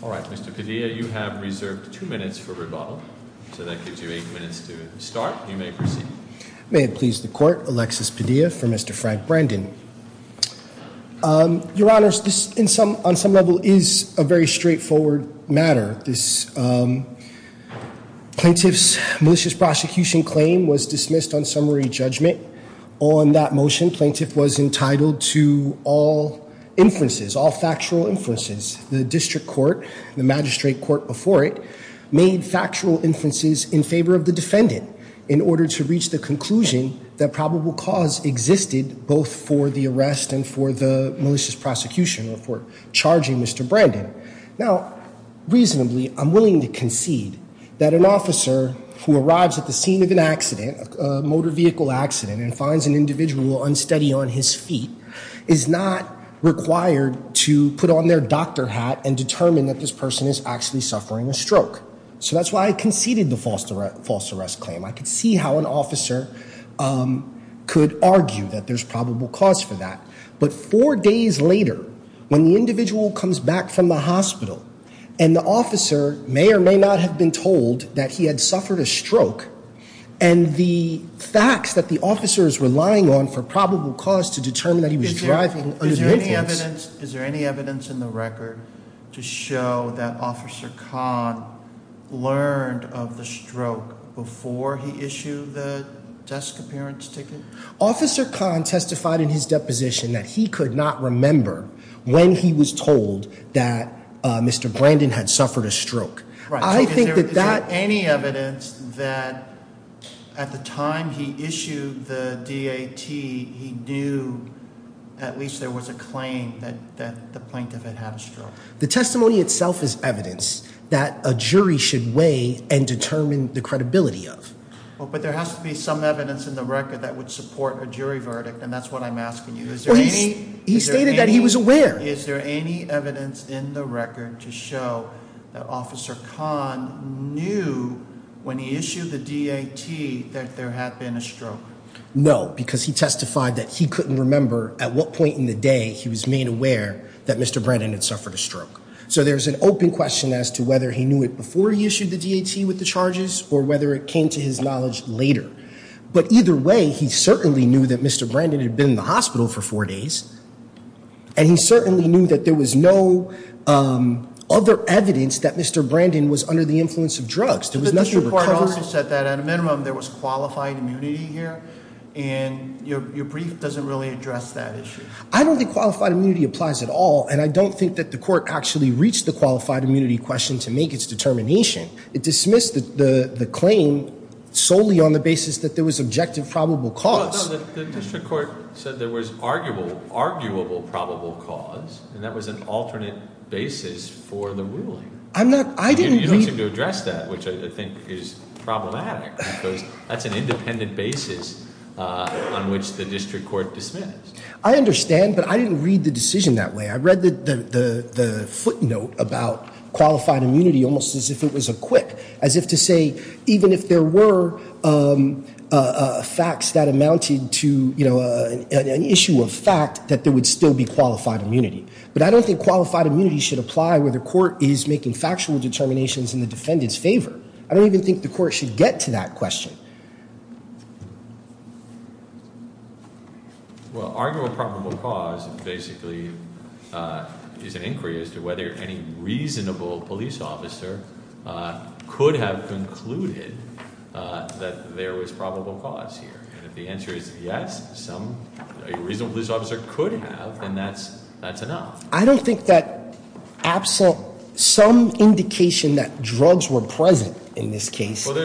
All right, Mr. Padilla, you have reserved two minutes for rebuttal, so that gives you two minutes to start. You may proceed. May it please the court, Alexis Padilla for Mr. Frank Brandon. Your Honor, this on some level is a very straightforward matter. This plaintiff's malicious prosecution claim was dismissed on summary judgment. On that motion, plaintiff was entitled to all inferences, all factual inferences. The district court, the magistrate court before it, made factual inferences in favor of the defendant in order to reach the conclusion that probable cause existed both for the arrest and for the malicious prosecution or for charging Mr. Brandon. Now, reasonably, I'm willing to concede that an officer who arrives at the scene of an accident, a motor vehicle accident, and finds an individual unsteady on his feet is not required to put on their doctor hat and determine that this person is actually suffering a stroke. So that's why I conceded the false arrest claim. I could see how an officer could argue that there's probable cause for that. But four days later, when the individual comes back from the hospital and the officer may or may not have been told that he had suffered a stroke and the facts that the officer is relying on for probable cause to determine that he was driving under the influence- Is there any evidence in the record to show that Officer Kahn learned of the stroke before he issued the desk appearance ticket? Officer Kahn testified in his deposition that he could not remember when he was told that Mr. Brandon had suffered a stroke. I think that that- Is there any evidence that at the time he issued the DAT, he knew at least there was a claim that the plaintiff had had a stroke? The testimony itself is evidence that a jury should weigh and determine the credibility of. Well, but there has to be some evidence in the record that would support a jury verdict, and that's what I'm asking you. Is there any- He stated that he was aware. Is there any evidence in the record to show that Officer Kahn knew when he issued the DAT that there had been a stroke? No, because he testified that he couldn't remember at what point in the day he was made aware that Mr. Brandon had suffered a stroke. So there's an open question as to whether he knew it before he issued the DAT with the charges or whether it came to his knowledge later. But either way, he certainly knew that Mr. Brandon had been in the hospital for four days, and he certainly knew that there was no other evidence that Mr. Brandon was under the influence of drugs. There was nothing- But the district court also said that, at a minimum, there was qualified immunity here, and your brief doesn't really address that issue. I don't think qualified immunity applies at all, and I don't think that the court actually reached the qualified immunity question to make its determination. It dismissed the claim solely on the basis that there was objective probable cause. No, the district court said there was arguable probable cause, and that was an alternate basis for the ruling. I'm not, I didn't- You don't seem to address that, which I think is problematic because that's an independent basis on which the district court dismissed. I understand, but I didn't read the decision that way. I read the footnote about qualified immunity almost as if it was a quick, as if to say, even if there were facts that amounted to an issue of fact, that there would still be qualified immunity. But I don't think qualified immunity should apply where the court is making factual determinations in the defendant's favor. I don't even think the court should get to that question. Well, arguable probable cause basically is an inquiry as to whether any reasonable police officer could have concluded that there was probable cause here. And if the answer is yes, a reasonable police officer could have, then that's enough. I don't think that some indication that drugs were present in this case. But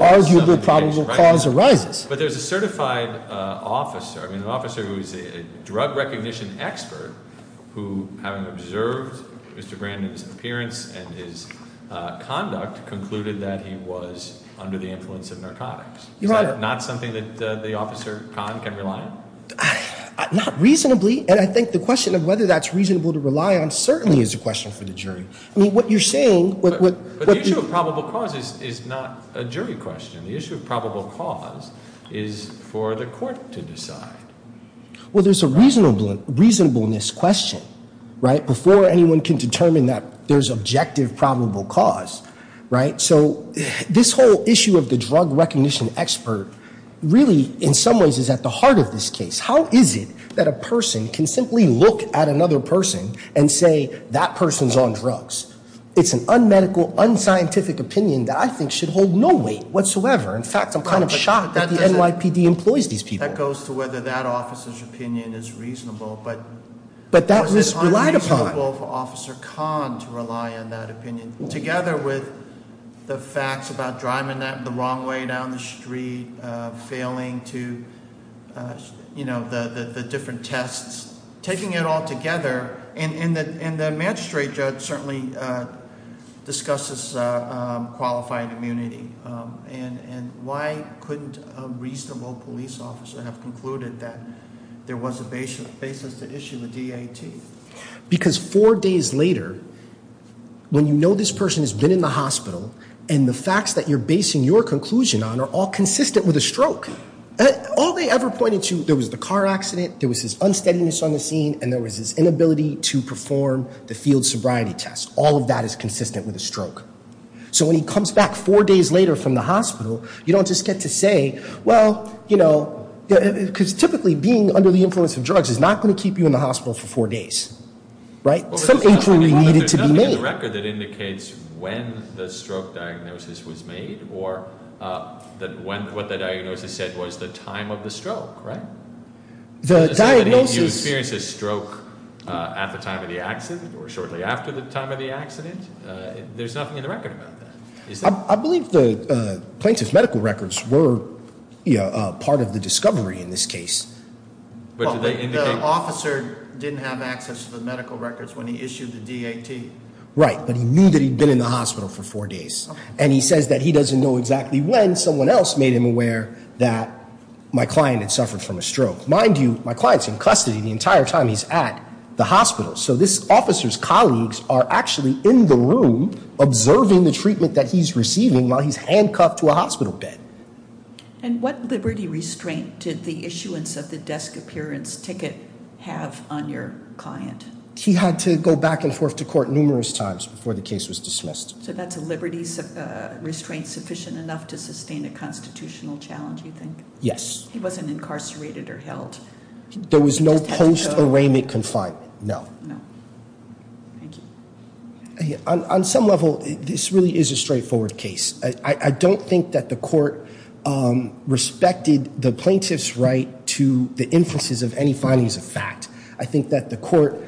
arguably probable cause arises. But there's a certified officer, I mean an officer who's a drug recognition expert, who having observed Mr. Brandon's appearance and his conduct, concluded that he was under the influence of narcotics. Is that not something that the officer can rely on? Not reasonably, and I think the question of whether that's reasonable to rely on certainly is a question for the jury. I mean, what you're saying, what- The issue of probable cause is not a jury question. The issue of probable cause is for the court to decide. Well, there's a reasonableness question, right, before anyone can determine that there's objective probable cause, right? So this whole issue of the drug recognition expert really, in some ways, is at the heart of this case. How is it that a person can simply look at another person and say, that person's on drugs? It's an unmedical, unscientific opinion that I think should hold no weight whatsoever. In fact, I'm kind of shocked that the NYPD employs these people. That goes to whether that officer's opinion is reasonable, but- But that was relied upon. It's unreasonable for Officer Khan to rely on that opinion, together with the facts about driving the wrong way down the street, failing to, the different tests. Taking it all together, and the magistrate judge certainly discussed this qualified immunity. And why couldn't a reasonable police officer have concluded that there was a basis to issue a DAT? Because four days later, when you know this person has been in the hospital, and the facts that you're basing your conclusion on are all consistent with a stroke. All they ever pointed to, there was the car accident, there was this unsteadiness on the scene, and there was this inability to perform the field sobriety test. All of that is consistent with a stroke. So when he comes back four days later from the hospital, you don't just get to say, well, because typically being under the influence of drugs is not going to keep you in the hospital for four days. Right? Some inquiry needed to be made. There's a record that indicates when the stroke diagnosis was made, or that what the diagnosis said was the time of the stroke, right? The diagnosis- You experienced a stroke at the time of the accident, or shortly after the time of the accident? There's nothing in the record about that. I believe the plaintiff's medical records were part of the discovery in this case. But do they indicate- The officer didn't have access to the medical records when he issued the DAT. Right, but he knew that he'd been in the hospital for four days. And he says that he doesn't know exactly when someone else made him aware that my client had suffered from a stroke. Mind you, my client's in custody the entire time he's at the hospital. So this officer's colleagues are actually in the room observing the treatment that he's receiving while he's handcuffed to a hospital bed. And what liberty restraint did the issuance of the desk appearance ticket have on your client? He had to go back and forth to court numerous times before the case was dismissed. So that's a liberty restraint sufficient enough to sustain a constitutional challenge, you think? Yes. He wasn't incarcerated or held? There was no post arraignment confinement, no. No, thank you. On some level, this really is a straightforward case. I don't think that the court respected the plaintiff's right to the inferences of any findings of fact. I think that the court,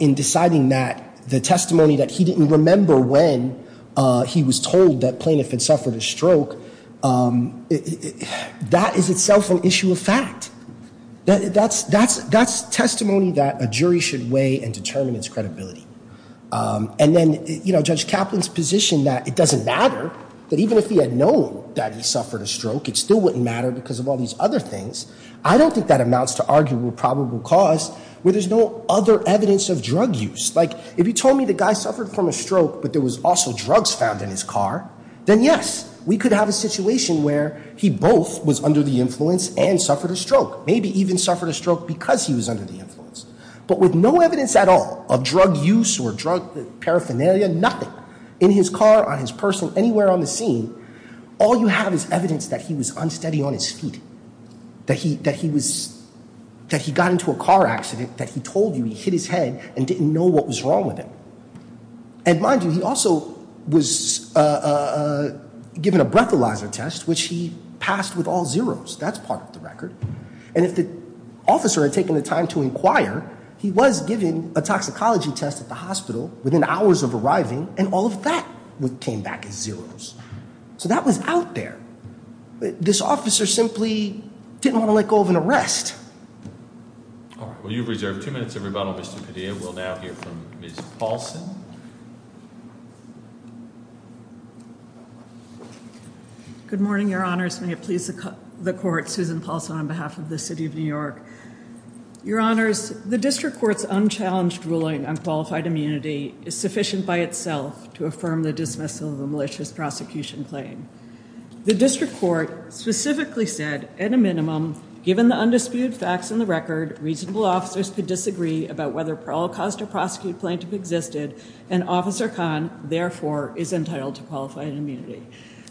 in deciding that the testimony that he didn't remember when he was told that plaintiff had suffered a stroke, that is itself an issue of fact. That's testimony that a jury should weigh and determine its credibility. And then Judge Kaplan's position that it doesn't matter, that even if he had known that he suffered a stroke, it still wouldn't matter because of all these other things, I don't think that amounts to arguable probable cause where there's no other evidence of drug use. Like, if you told me the guy suffered from a stroke, but there was also drugs found in his car, then yes, we could have a situation where he both was under the influence and suffered a stroke. Maybe even suffered a stroke because he was under the influence. But with no evidence at all of drug use or drug paraphernalia, nothing. In his car, on his person, anywhere on the scene, all you have is evidence that he was unsteady on his feet. That he got into a car accident, that he told you he hit his head and didn't know what was wrong with him. And mind you, he also was given a breathalyzer test, which he passed with all zeroes. That's part of the record. And if the officer had taken the time to inquire, he was given a toxicology test at the hospital within hours of arriving, and all of that came back as zeroes. So that was out there. This officer simply didn't want to let go of an arrest. All right, well, you've reserved two minutes of rebuttal, Mr. Padilla. We'll now hear from Ms. Paulson. Good morning, your honors. May it please the court, Susan Paulson on behalf of the city of New York. Your honors, the district court's unchallenged ruling on qualified immunity is sufficient by itself to affirm the dismissal of the malicious prosecution claim. The district court specifically said, at a minimum, given the undisputed facts in the record, reasonable officers could disagree about whether a prosecute plaintiff existed, and Officer Khan, therefore, is entitled to qualified immunity.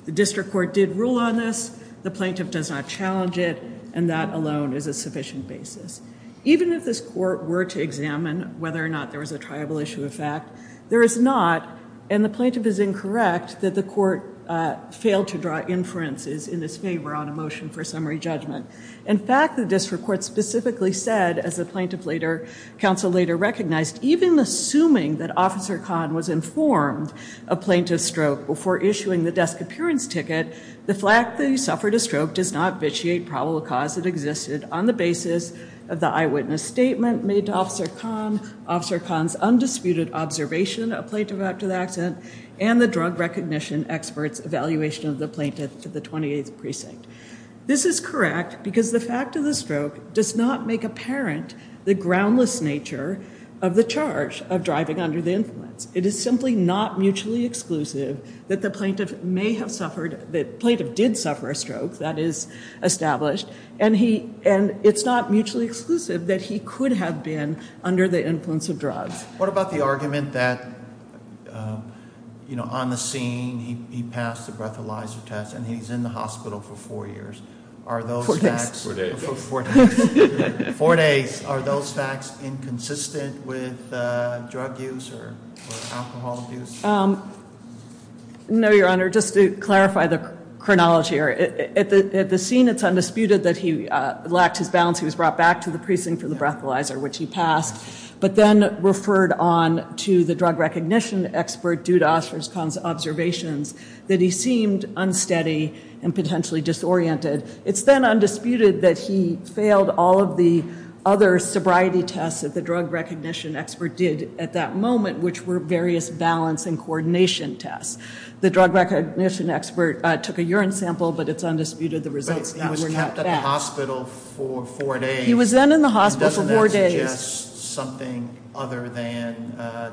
The district court did rule on this. The plaintiff does not challenge it, and that alone is a sufficient basis. Even if this court were to examine whether or not there was a triable issue of fact, there is not, and the plaintiff is incorrect, that the court failed to draw inferences in this favor on a motion for summary judgment. In fact, the district court specifically said, as the plaintiff later, counsel later recognized, even assuming that Officer Khan was informed of plaintiff's stroke before issuing the desk appearance ticket, the fact that he suffered a stroke does not vitiate probable cause it existed on the basis of the eyewitness statement made to Officer Khan, Officer Khan's undisputed observation of plaintiff after the accident, and the drug recognition expert's evaluation of the plaintiff to the 28th precinct. This is correct, because the fact of the stroke does not make apparent the groundless nature of the charge of driving under the influence. It is simply not mutually exclusive that the plaintiff may have suffered, that the plaintiff did suffer a stroke, that is established, and it's not mutually exclusive that he could have been under the influence of drugs. What about the argument that on the scene, he passed the breathalyzer test, and he's in the hospital for four years. Are those facts- Four days. Four days. Four days. Are those facts inconsistent with drug use or alcohol abuse? No, your honor. Just to clarify the chronology, at the scene it's undisputed that he lacked his balance. He was brought back to the precinct for the breathalyzer, which he passed. But then referred on to the drug recognition expert, due to Osher's observations, that he seemed unsteady and potentially disoriented. It's then undisputed that he failed all of the other sobriety tests that the drug recognition expert did at that moment, which were various balance and coordination tests. The drug recognition expert took a urine sample, but it's undisputed the results were not facts. But he was kept at the hospital for four days. He was then in the hospital for four days. That suggests something other than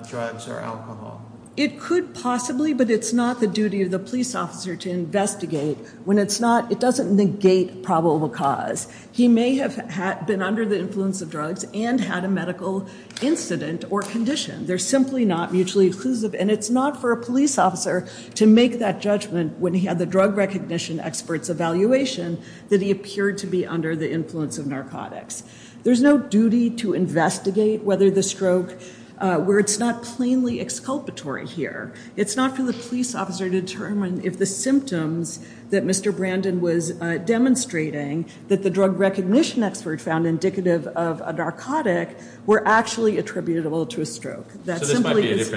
drugs or alcohol. It could possibly, but it's not the duty of the police officer to investigate when it's not, it doesn't negate probable cause. He may have been under the influence of drugs and had a medical incident or condition. They're simply not mutually exclusive. And it's not for a police officer to make that judgment when he had the drug recognition expert's evaluation that he appeared to be under the influence of narcotics. There's no duty to investigate whether the stroke, where it's not plainly exculpatory here. It's not for the police officer to determine if the symptoms that Mr. Brandon was demonstrating, that the drug recognition expert found indicative of a narcotic, were actually attributable to a stroke. That simply is-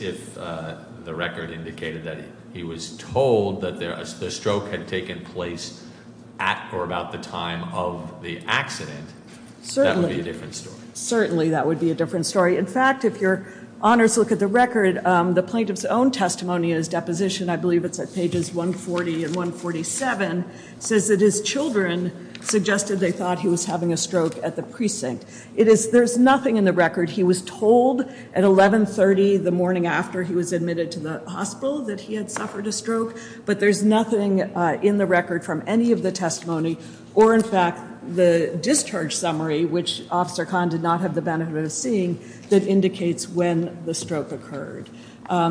If the record indicated that he was told that the stroke had taken place at or about the time of the accident, that would be a different story. Certainly, that would be a different story. In fact, if your honors look at the record, the plaintiff's own testimony in his deposition, I believe it's at pages 140 and 147, says that his children suggested they thought he was having a stroke at the precinct. There's nothing in the record. He was told at 1130, the morning after he was admitted to the hospital, that he had suffered a stroke. But there's nothing in the record from any of the testimony, or in fact, the discharge summary, which Officer Khan did not have the benefit of seeing, that indicates when the stroke occurred.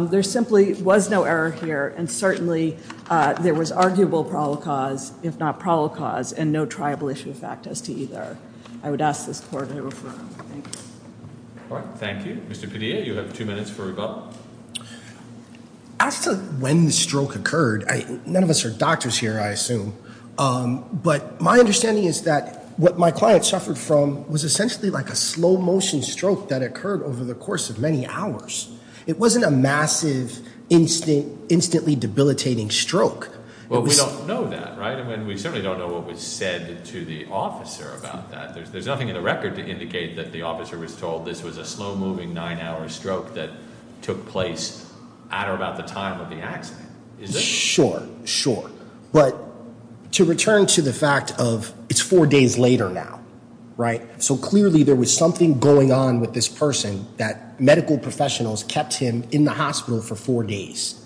There simply was no error here, and certainly, there was arguable proloquos, if not proloquos, and no tribal issue of fact as to either. I would ask this court to refer. Thanks. All right, thank you. Mr. Padilla, you have two minutes for rebuttal. As to when the stroke occurred, none of us are doctors here, I assume. But my understanding is that what my client suffered from was essentially like a slow motion stroke that occurred over the course of many hours. It wasn't a massive, instantly debilitating stroke. Well, we don't know that, right? I mean, we certainly don't know what was said to the officer about that. There's nothing in the record to indicate that the officer was told this was a slow moving nine hour stroke that took place at or about the time of the accident. Is there? Sure, sure. But to return to the fact of, it's four days later now, right? So clearly, there was something going on with this person that medical professionals kept him in the hospital for four days,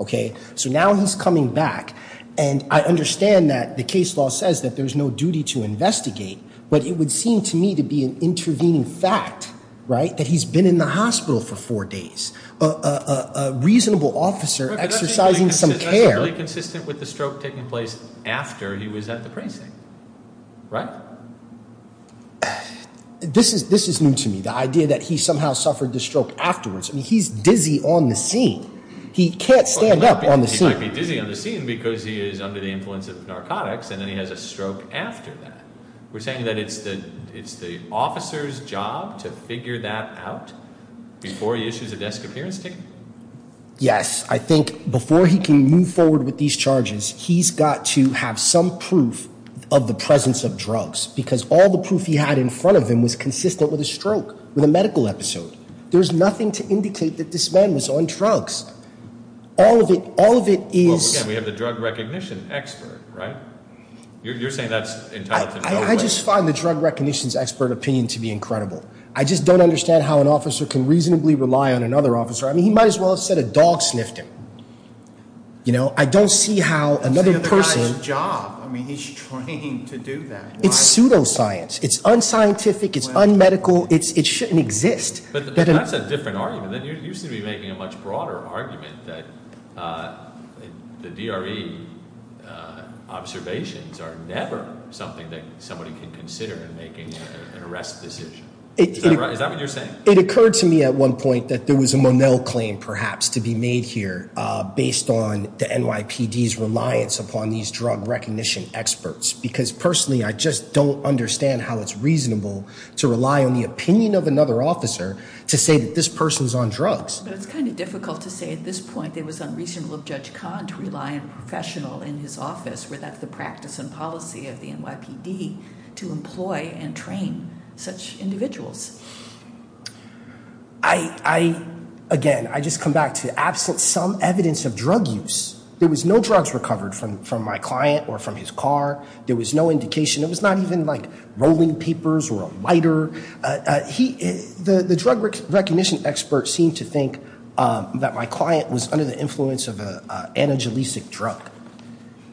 okay? So now he's coming back, and I understand that the case law says that there's no duty to investigate. But it would seem to me to be an intervening fact, right? That he's been in the hospital for four days, a reasonable officer exercising some care. But that's really consistent with the stroke taking place after he was at the precinct, right? This is new to me, the idea that he somehow suffered the stroke afterwards. I mean, he's dizzy on the scene. He can't stand up on the scene. He might be dizzy on the scene because he is under the influence of narcotics, and then he has a stroke after that. We're saying that it's the officer's job to figure that out before he issues a desk appearance ticket? Yes, I think before he can move forward with these charges, he's got to have some proof of the presence of drugs, because all the proof he had in front of him was consistent with a stroke, with a medical episode. There's nothing to indicate that this man was on drugs. All of it is- Well, again, we have the drug recognition expert, right? You're saying that's intelligent, by the way. I just find the drug recognition's expert opinion to be incredible. I just don't understand how an officer can reasonably rely on another officer. I mean, he might as well have said a dog sniffed him. You know, I don't see how another person- It's the other guy's job. I mean, he's trained to do that. It's pseudoscience. It's unscientific. It's unmedical. It shouldn't exist. That's a different argument. You seem to be making a much broader argument that the DRE observations are never something that somebody can consider in making an arrest decision. Is that right? Is that what you're saying? It occurred to me at one point that there was a Monell claim, perhaps, to be made here based on the NYPD's reliance upon these drug recognition experts. Because personally, I just don't understand how it's reasonable to rely on the opinion of another officer to say that this person's on drugs. But it's kind of difficult to say at this point it was unreasonable of Judge Kahn to rely on a professional in his office without the practice and policy of the NYPD to employ and train such individuals. I, again, I just come back to some evidence of drug use. There was no drugs recovered from my client or from his car. There was no indication. It was not even like rolling papers or a lighter. The drug recognition experts seem to think that my client was under the influence of a anaglycic drug.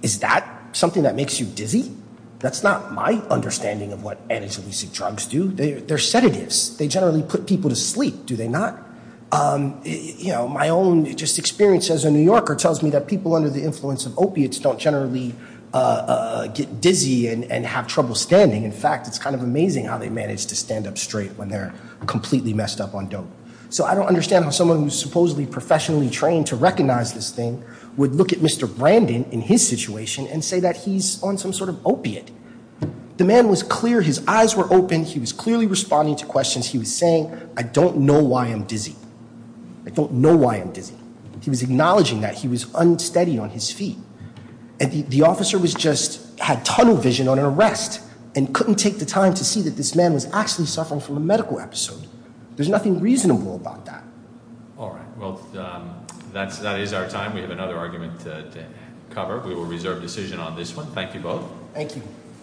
Is that something that makes you dizzy? That's not my understanding of what anaglycic drugs do. They're sedatives. They generally put people to sleep, do they not? My own just experience as a New Yorker tells me that people under the influence of opiates don't generally get dizzy and have trouble standing. In fact, it's kind of amazing how they manage to stand up straight when they're completely messed up on dope. So I don't understand how someone who's supposedly professionally trained to recognize this thing would look at Mr. Brandon in his situation and say that he's on some sort of opiate. The man was clear. His eyes were open. He was clearly responding to questions. He was saying, I don't know why I'm dizzy. I don't know why I'm dizzy. He was acknowledging that he was unsteady on his feet. And the officer was just, had tunnel vision on an arrest and couldn't take the time to see that this man was actually suffering from a medical episode. There's nothing reasonable about that. All right, well, that is our time. We have another argument to cover. We will reserve decision on this one. Thank you both. Thank you.